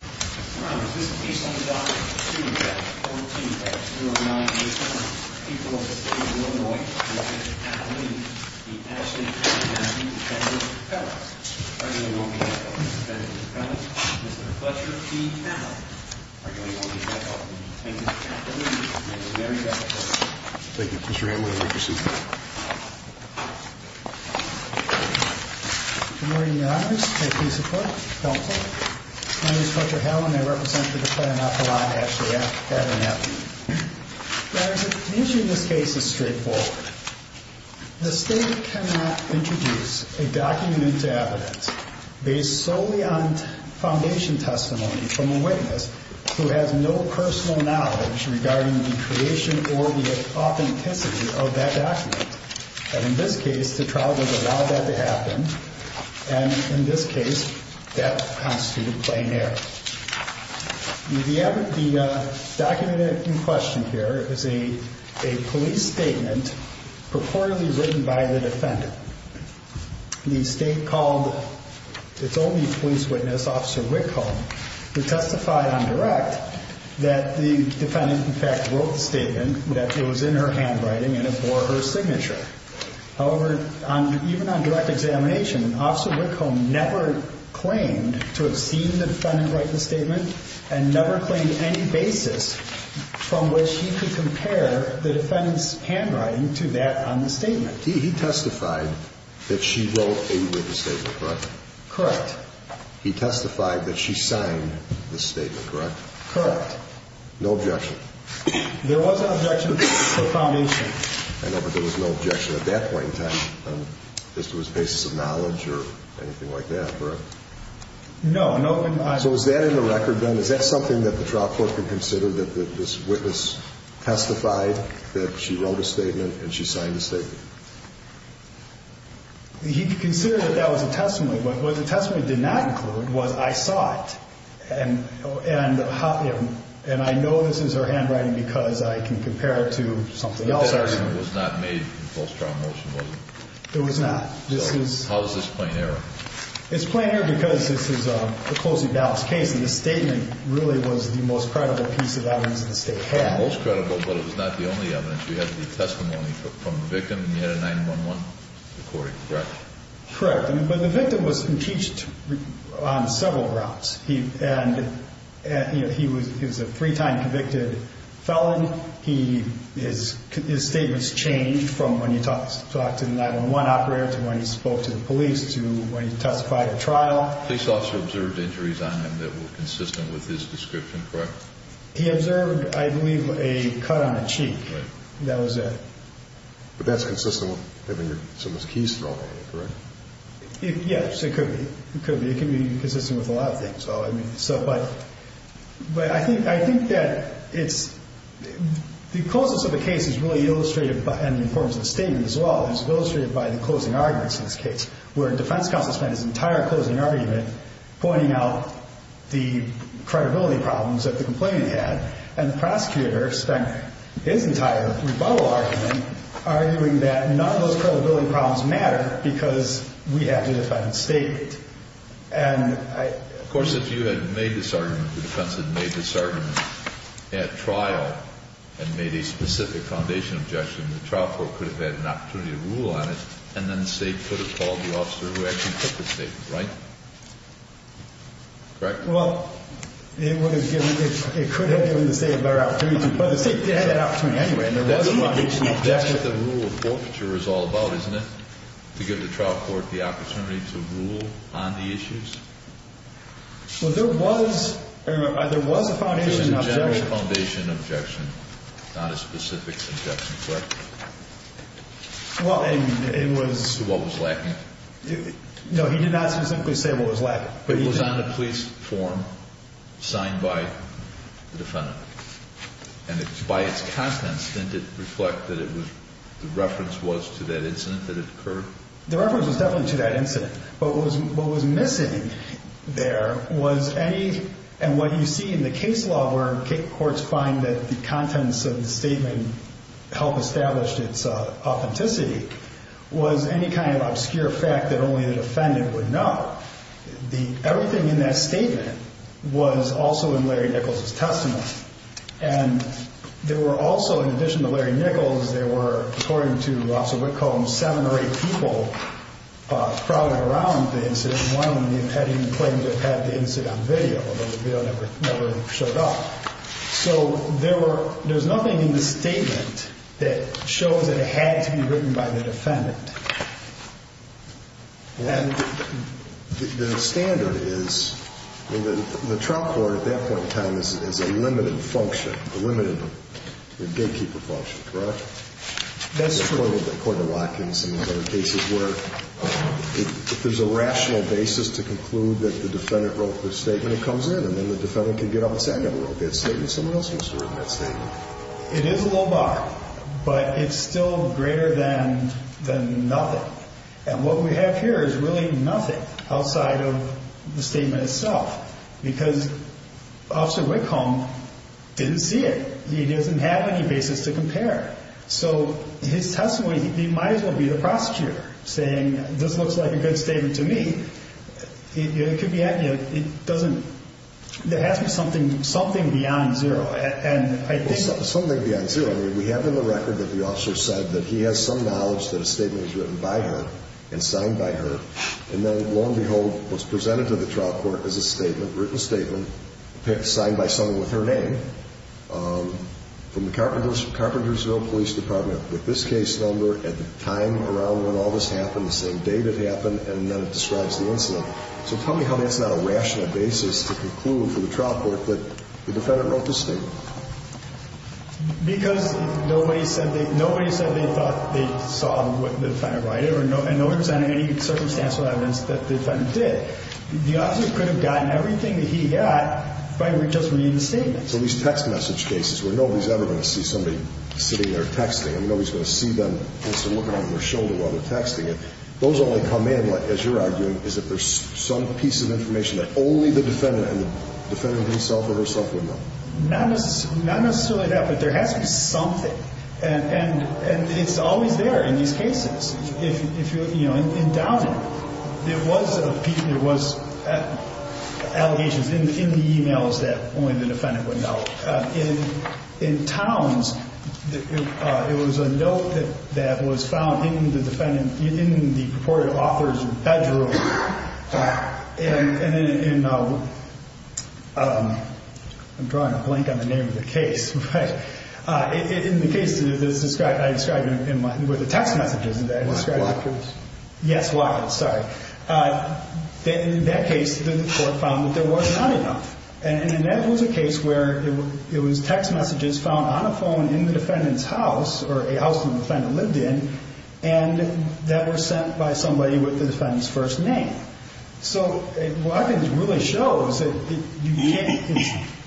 This case on the docket, 2-14-0987, people of the state of Illinois, Mr. Ashley Abernathy, defendant's appellant. Arguing on behalf of the defendant's appellant, Mr. Fletcher P. Allen. Arguing on behalf of the defendant's appellant, Mr. Larry Fletcher P. Allen. Thank you. Put your hand where I can see it. Good morning, Your Honors. May I please have a quote? My name is Fletcher Allen. I represent the defendant's appellant, Ashley Abernathy. The issue in this case is straightforward. The state cannot introduce a document to evidence based solely on foundation testimony from a witness who has no personal knowledge regarding the creation or the authenticity of that document. In this case, the trial would allow that to happen. And in this case, that constitutes plain error. The document in question here is a police statement purportedly written by the defendant. The state called its only police witness, Officer Wickhom, who testified on direct that the defendant, in fact, wrote the statement that was in her handwriting and it bore her signature. However, even on direct examination, Officer Wickhom never claimed to have seen the defendant write the statement and never claimed any basis from which he could compare the defendant's handwriting to that on the statement. He testified that she wrote a witness statement, correct? Correct. He testified that she signed the statement, correct? Correct. No objection? There was an objection to the foundation. I know, but there was no objection at that point in time as to his basis of knowledge or anything like that, correct? No. So is that in the record, then? Is that something that the trial court could consider, that this witness testified that she wrote a statement and she signed a statement? He could consider that that was a testimony. But what the testimony did not include was I saw it, and I know this is her handwriting because I can compare it to something else. But that argument was not made in the false trial motion, was it? It was not. How is this plain error? It's plain error because this is a closely balanced case, and the statement really was the most credible piece of evidence the state had. Most credible, but it was not the only evidence. You had the testimony from the victim, and you had a 9-1-1 recording, correct? Correct. But the victim was impeached on several grounds. And he was a three-time convicted felon. His statements changed from when he talked to the 9-1-1 operator to when he spoke to the police to when he testified at trial. Police officers observed injuries on him that were consistent with his description, correct? He observed, I believe, a cut on the cheek. Right. That was it. But that's consistent with having someone's keys thrown at him, correct? Yes, it could be. It could be consistent with a lot of things. But I think that the closeness of the case is really illustrated, and the importance of the statement as well, is illustrated by the closing arguments in this case, where the defense counsel spent his entire closing argument pointing out the credibility problems that the complainant had, and the prosecutor spent his entire rebuttal argument arguing that none of those credibility problems matter because we have to defend the statement. Of course, if you had made this argument, the defense had made this argument at trial and made a specific foundation objection, the trial court could have had an opportunity to rule on it, and then the state could have called the officer who actually took the statement, right? Correct? Well, it could have given the state a better opportunity, but the state did have that opportunity anyway. That's what the rule of forfeiture is all about, isn't it? To give the trial court the opportunity to rule on the issues? Well, there was a foundation objection. There was a foundation objection, not a specific objection, correct? Well, it was... What was lacking? No, he did not specifically say what was lacking. It was on the police form signed by the defendant, and by its contents, didn't it reflect that the reference was to that incident that occurred? The reference was definitely to that incident, but what was missing there was any... And what you see in the case law where courts find that the contents of the statement help establish its authenticity was any kind of obscure fact that only the defendant would know. Everything in that statement was also in Larry Nichols' testimony, and there were also, in addition to Larry Nichols, there were, according to Officer Whitcomb, seven or eight people crowding around the incident. One of them had even claimed to have had the incident on video, although the video never showed up. So there was nothing in the statement that shows that it had to be written by the defendant. And the standard is... I mean, the trial court at that point in time is a limited function, a limited gatekeeper function, correct? That's true of the court of Watkins and other cases where there's a rational basis to conclude that the defendant wrote the statement. It comes in, and then the defendant can get up and say, I never wrote that statement. Someone else must have written that statement. It is a low bar, but it's still greater than nothing. And what we have here is really nothing outside of the statement itself, because Officer Whitcomb didn't see it. He doesn't have any basis to compare. So his testimony, he might as well be the prosecutor saying, this looks like a good statement to me. It could be, you know, it doesn't... It has to be something beyond zero, and I think... Something beyond zero. I mean, we have in the record that the officer said that he has some knowledge that a statement was written by her and signed by her. And then, lo and behold, what's presented to the trial court is a statement, written statement, signed by someone with her name, from the Carpentersville Police Department with this case number at the time around when all this happened, the same date it happened, and then it describes the incident. So tell me how that's not a rational basis to conclude for the trial court that the defendant wrote the statement. Because nobody said they thought they saw what the defendant wrote it, and nobody presented any circumstantial evidence that the defendant did. The officer could have gotten everything that he got by just reading the statement. So these text message cases where nobody's ever going to see somebody sitting there texting, and nobody's going to see them instead of looking over their shoulder while they're texting it, those only come in, as you're arguing, is if there's some piece of information that only the defendant and the defendant himself or herself would know. Not necessarily that, but there has to be something. And it's always there in these cases. In Downing, there was allegations in the e-mails that only the defendant would know. In Towns, it was a note that was found in the defendant's, in the purported author's bedroom. And in, I'm drawing a blank on the name of the case. In the case that I described with the text messages that I described. Lockets. Yes, lockets, sorry. In that case, the court found that there was not enough. And that was a case where it was text messages found on a phone in the defendant's house, or a house the defendant lived in, and that were sent by somebody with the defendant's first name. So what I think it really shows is that you can't,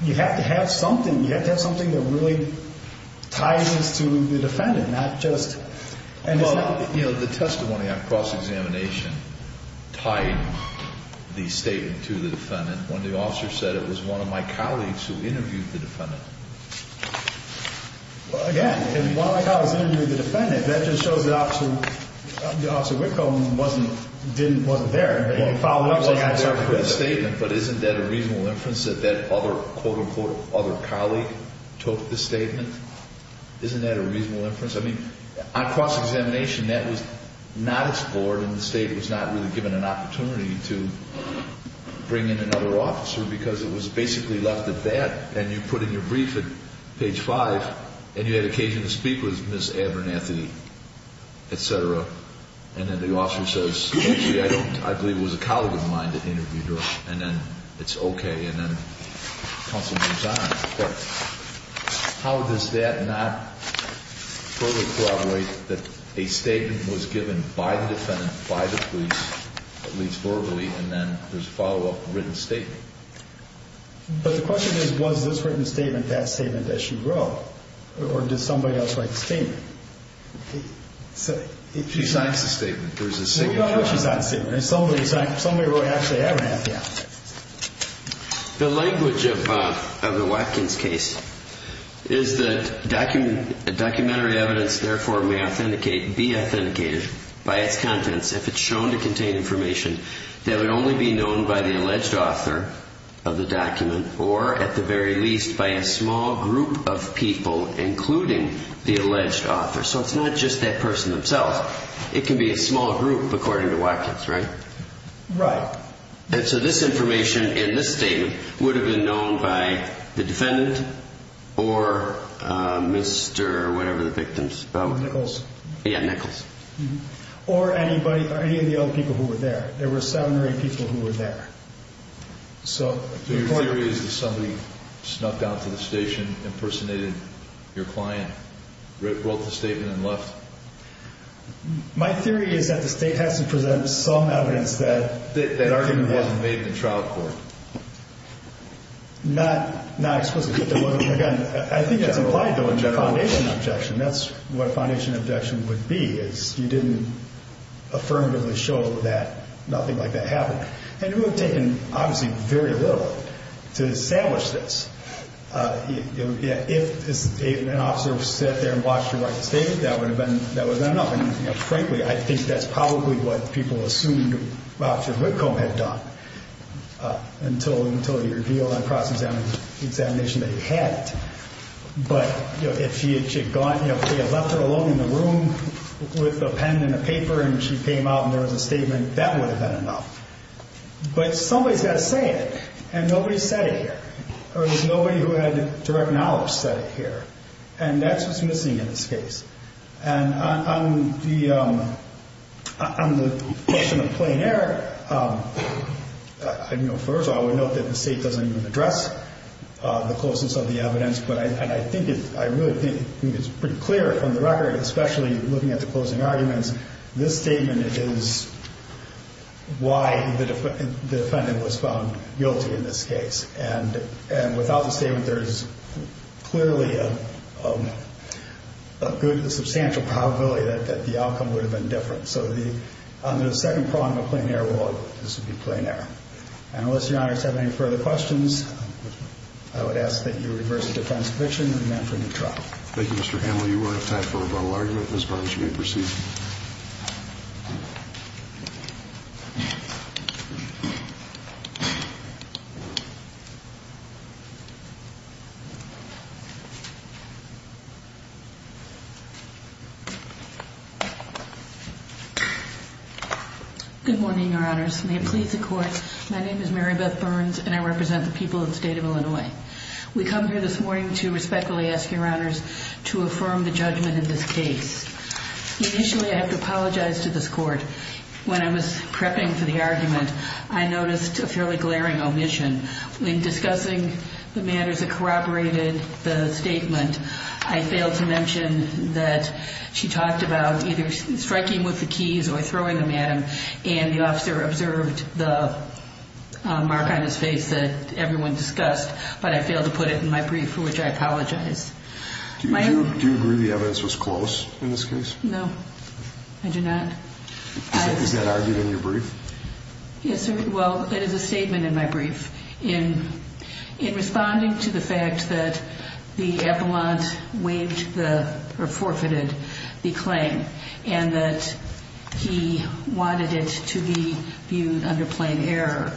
you have to have something, you have to have something that really ties this to the defendant, not just, and it's not. Well, you know, the testimony on cross-examination tied the statement to the defendant. When the officer said it was one of my colleagues who interviewed the defendant. Well, again, if it was one of my colleagues interviewing the defendant, that just shows the officer, the officer Whitcomb wasn't there. He wasn't there for the statement. But isn't that a reasonable inference that that other, quote-unquote, other colleague took the statement? Isn't that a reasonable inference? I mean, on cross-examination, that was not explored, and the State was not really given an opportunity to bring in another officer, because it was basically left at that, and you put in your brief at page 5, and you had occasion to speak with Ms. Abernathy, et cetera, and then the officer says, okay, I believe it was a colleague of mine that interviewed her, and then it's okay, and then counsel moves on. But how does that not further corroborate that a statement was given by the defendant, by the police, at least verbally, and then there's a follow-up written statement? But the question is, was this written statement that statement that she wrote, or did somebody else write the statement? She signs the statement. There's a signature on it. Well, no, she signed the statement. Somebody wrote, actually, Abernathy on it. The language of the Watkins case is that documentary evidence, therefore, may be authenticated by its contents if it's shown to contain information that would only be known by the alleged author of the document, or at the very least by a small group of people, including the alleged author. So it's not just that person themselves. It can be a small group, according to Watkins, right? Right. And so this information in this statement would have been known by the defendant or Mr. whatever the victim is called. Nichols. Yeah, Nichols. Or anybody, any of the other people who were there. There were seven or eight people who were there. So your theory is that somebody snuck out to the station, impersonated your client, wrote the statement, and left. My theory is that the state has to present some evidence that That argument wasn't made in the trial court. Not explicitly. Again, I think that's implied though in the foundation objection. That's what a foundation objection would be, is you didn't affirmatively show that nothing like that happened. And it would have taken, obviously, very little to establish this. If an officer sat there and watched you write the statement, I think that would have been enough. And frankly, I think that's probably what people assumed Officer Whitcomb had done until he revealed on cross-examination that he had it. But if he had left her alone in the room with a pen and a paper and she came out and there was a statement, that would have been enough. But somebody's got to say it, and nobody said it here. There was nobody who had direct knowledge said it here. And that's what's missing in this case. And on the question of plain error, first of all, I would note that the state doesn't even address the closeness of the evidence. But I think it's pretty clear from the record, especially looking at the closing arguments, this statement is why the defendant was found guilty in this case. And without the statement, there's clearly a substantial probability that the outcome would have been different. So under the second prong of plain error, this would be plain error. And unless Your Honors have any further questions, I would ask that you reverse the defense conviction and demand for a new trial. Thank you, Mr. Hanley. We're out of time for rebuttal argument. Ms. Barnes, you may proceed. Good morning, Your Honors. May it please the Court, my name is Mary Beth Barnes, and I represent the people of the state of Illinois. We come here this morning to respectfully ask Your Honors to affirm the judgment in this case. Initially, I have to apologize to this Court. When I was prepping for the argument, I noticed a fairly glaring omission. When discussing the matters that corroborated the statement, I failed to mention that she talked about either striking with the keys or throwing them at him, and the officer observed the mark on his face that everyone discussed, but I failed to put it in my brief, for which I apologize. Do you agree the evidence was close in this case? No, I do not. Is that argued in your brief? Yes, sir. Well, it is a statement in my brief. In responding to the fact that the appellant forfeited the claim and that he wanted it to be viewed under plain error,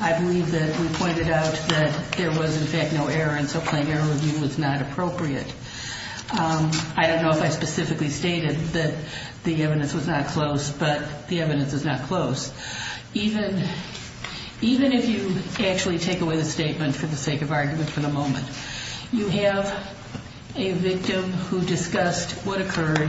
I believe that we pointed out that there was, in fact, no error, and so plain error review was not appropriate. I don't know if I specifically stated that the evidence was not close, but the evidence is not close. Even if you actually take away the statement for the sake of argument for the moment, you have a victim who discussed what occurred,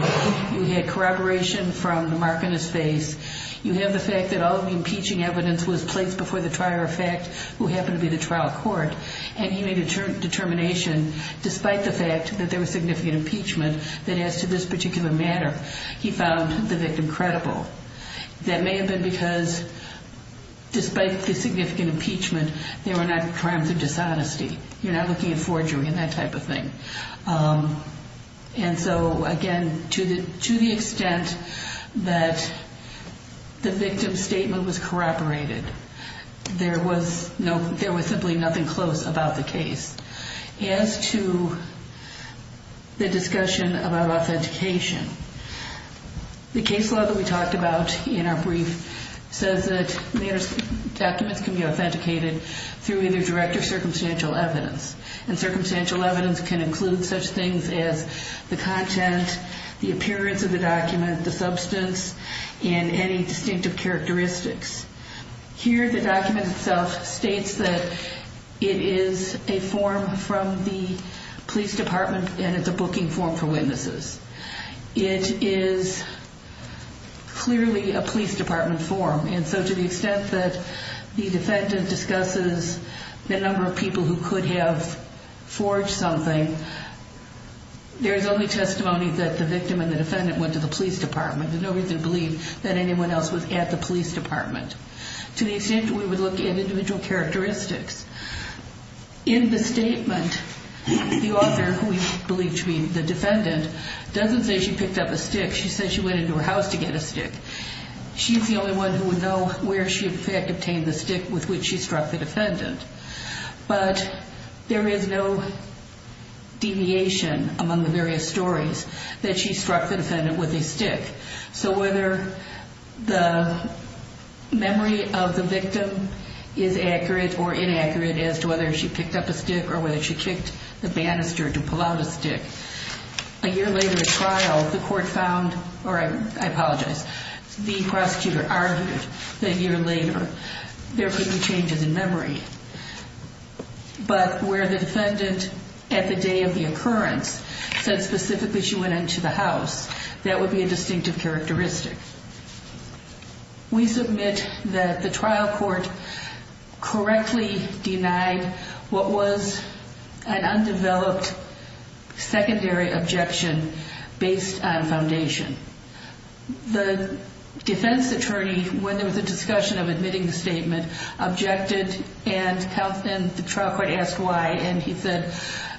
you had corroboration from the mark on his face, you have the fact that all of the impeaching evidence was placed before the trial effect, who happened to be the trial court, and he made a determination, despite the fact that there was significant impeachment, that as to this particular matter, he found the victim credible. That may have been because despite the significant impeachment, there were not crimes of dishonesty. You're not looking at forgery and that type of thing. And so, again, to the extent that the victim's statement was corroborated, there was simply nothing close about the case. As to the discussion about authentication, the case law that we talked about in our brief says that documents can be authenticated through either direct or circumstantial evidence, and circumstantial evidence can include such things as the content, the appearance of the document, the substance, and any distinctive characteristics. Here, the document itself states that it is a form from the police department and it's a booking form for witnesses. It is clearly a police department form, and so to the extent that the defendant discusses the number of people who could have forged something, there's only testimony that the victim and the defendant went to the police department. There's no reason to believe that anyone else was at the police department. To the extent that we would look at individual characteristics, in the statement, the author, who we believe to be the defendant, doesn't say she picked up a stick. She says she went into her house to get a stick. She's the only one who would know where she had obtained the stick with which she struck the defendant. But there is no deviation among the various stories that she struck the defendant with a stick. So whether the memory of the victim is accurate or inaccurate as to whether she picked up a stick or whether she kicked the banister to pull out a stick, a year later at trial, the court found, or I apologize, the prosecutor argued that a year later there could be changes in memory. But where the defendant, at the day of the occurrence, said specifically she went into the house, that would be a distinctive characteristic. We submit that the trial court correctly denied what was an undeveloped secondary objection based on foundation. The defense attorney, when there was a discussion of admitting the statement, objected and the trial court asked why, and he said,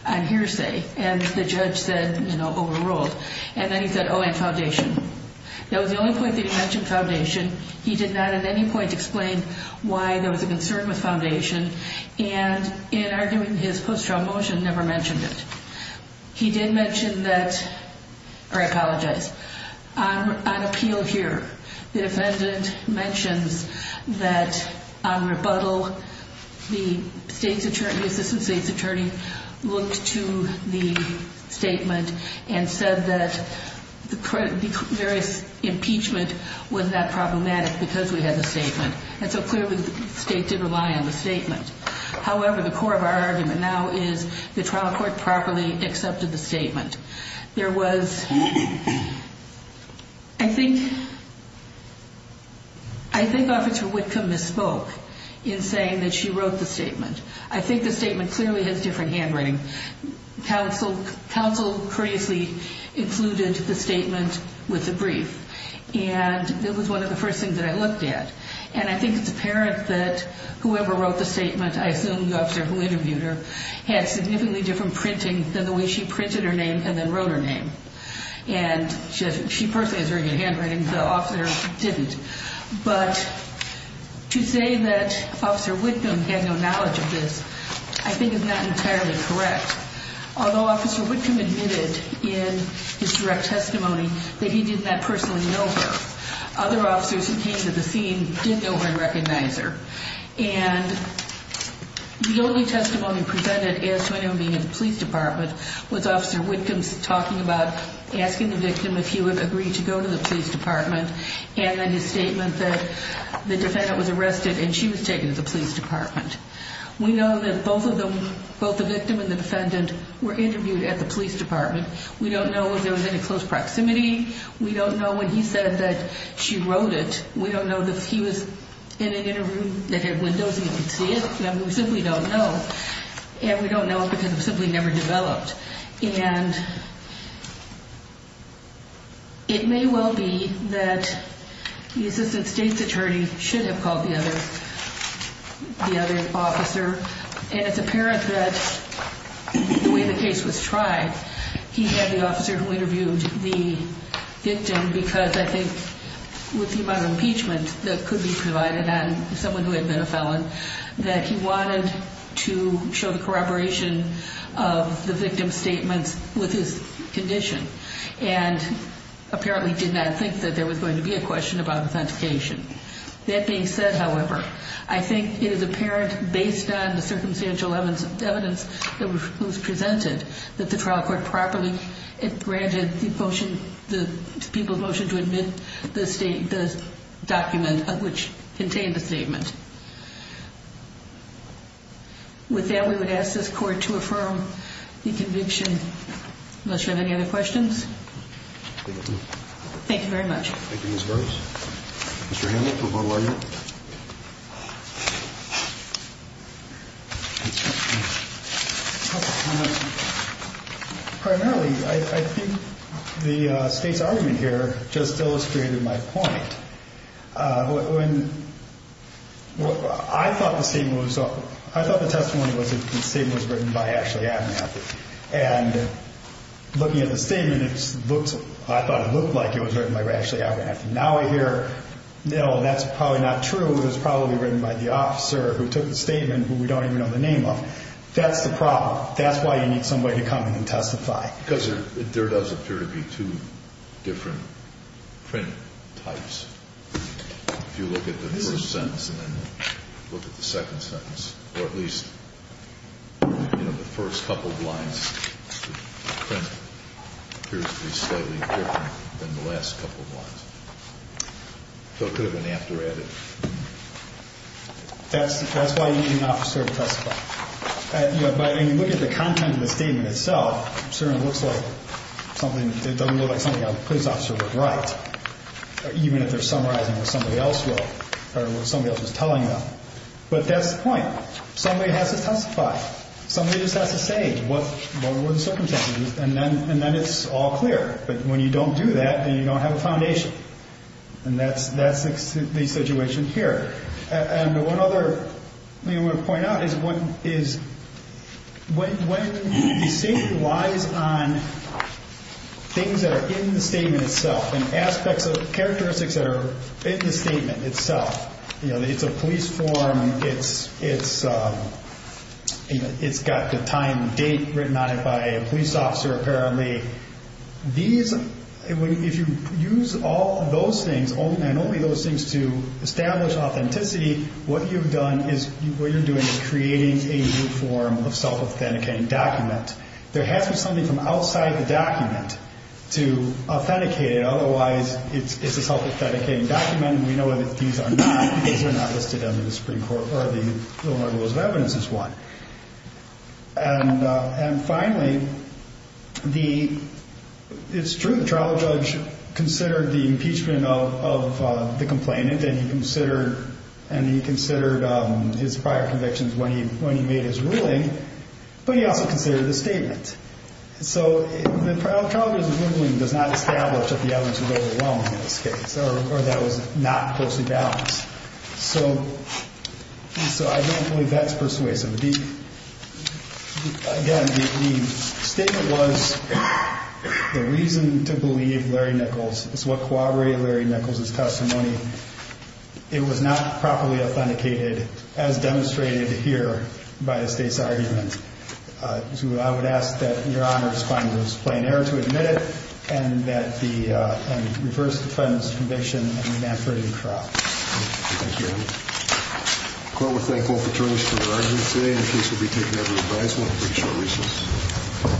and the judge said, you know, overruled. And then he said, oh, and foundation. That was the only point that he mentioned foundation. He did not at any point explain why there was a concern with foundation. And in arguing his post-trial motion, never mentioned it. He did mention that, or I apologize, on appeal here, the defendant mentions that on rebuttal, the state's attorney, the assistant state's attorney, looked to the statement and said that the various impeachment was not problematic because we had the statement. And so clearly the state did rely on the statement. However, the core of our argument now is the trial court properly accepted the statement. There was, I think, I think Officer Whitcomb misspoke in saying that she wrote the statement. I think the statement clearly has different handwriting. Counsel courteously included the statement with the brief. And that was one of the first things that I looked at. And I think it's apparent that whoever wrote the statement, I assume the officer who interviewed her, had significantly different printing than the way she printed her name and then wrote her name. And she personally has very good handwriting. The officer didn't. But to say that Officer Whitcomb had no knowledge of this, I think is not entirely correct. Although Officer Whitcomb admitted in his direct testimony that he did not personally know her. Other officers who came to the scene did know her and recognize her. And the only testimony presented as to him being in the police department was Officer Whitcomb's talking about asking the victim if he would agree to go to the police department and then his statement that the defendant was arrested and she was taken to the police department. We know that both of them, both the victim and the defendant, were interviewed at the police department. We don't know if there was any close proximity. We don't know when he said that she wrote it. We don't know that he was in an interview that had windows and you could see it. We simply don't know. And we don't know because it was simply never developed. And it may well be that the Assistant State's Attorney should have called the other officer. And it's apparent that the way the case was tried, he had the officer who interviewed the victim because I think with the amount of impeachment that could be provided on someone who had been a felon, that he wanted to show the corroboration of the victim's statements with his condition and apparently did not think that there was going to be a question about authentication. That being said, however, I think it is apparent based on the circumstantial evidence that was presented that the trial court properly granted the people's motion to admit the document which contained the statement. With that, we would ask this court to affirm the conviction. Unless you have any other questions. Thank you very much. Thank you, Ms. Burris. Mr. Hanlon, for a vote of aye vote. Primarily, I think the State's argument here just illustrated my point. I thought the testimony was that the statement was written by Ashley Abernathy. And looking at the statement, I thought it looked like it was written by Ashley Abernathy. Now I hear, no, that's probably not true. It was probably written by the officer who took the statement who we don't even know the name of. That's the problem. That's why you need somebody to come in and testify. Because there does appear to be two different print types. If you look at the first sentence and then look at the second sentence, or at least the first couple of lines, the print appears to be slightly different than the last couple of lines. So it could have been after added. That's why you need an officer to testify. But when you look at the content of the statement itself, it certainly doesn't look like something a police officer would write, even if they're summarizing what somebody else was telling them. But that's the point. Somebody has to testify. Somebody just has to say what were the circumstances. And then it's all clear. But when you don't do that, then you don't have a foundation. And that's the situation here. And one other thing I want to point out is when the statement relies on things that are in the statement itself and aspects of characteristics that are in the statement itself, you know, it's a police form. It's got the time and date written on it by a police officer, apparently. If you use all those things, and only those things to establish authenticity, what you're doing is creating a new form of self-authenticating document. There has to be something from outside the document to authenticate it. Otherwise, it's a self-authenticating document, and we know that these are not listed under the Supreme Court or the Illinois Rules of Evidence as one. And finally, it's true the trial judge considered the impeachment of the complainant, and he considered his prior convictions when he made his ruling, but he also considered the statement. So the trial judge's ruling does not establish that the evidence was overwhelming, in this case, or that it was not closely balanced. So I don't believe that's persuasive. Again, the statement was the reason to believe Larry Nichols is what corroborated Larry Nichols' testimony. It was not properly authenticated, as demonstrated here by the state's argument. So I would ask that Your Honor find this plain error to admit it and reverse the defendant's conviction and demand for it to be dropped. Thank you, Your Honor. The Court will thank both attorneys for their arguments today, and the case will be taken under advisement for these short reasons.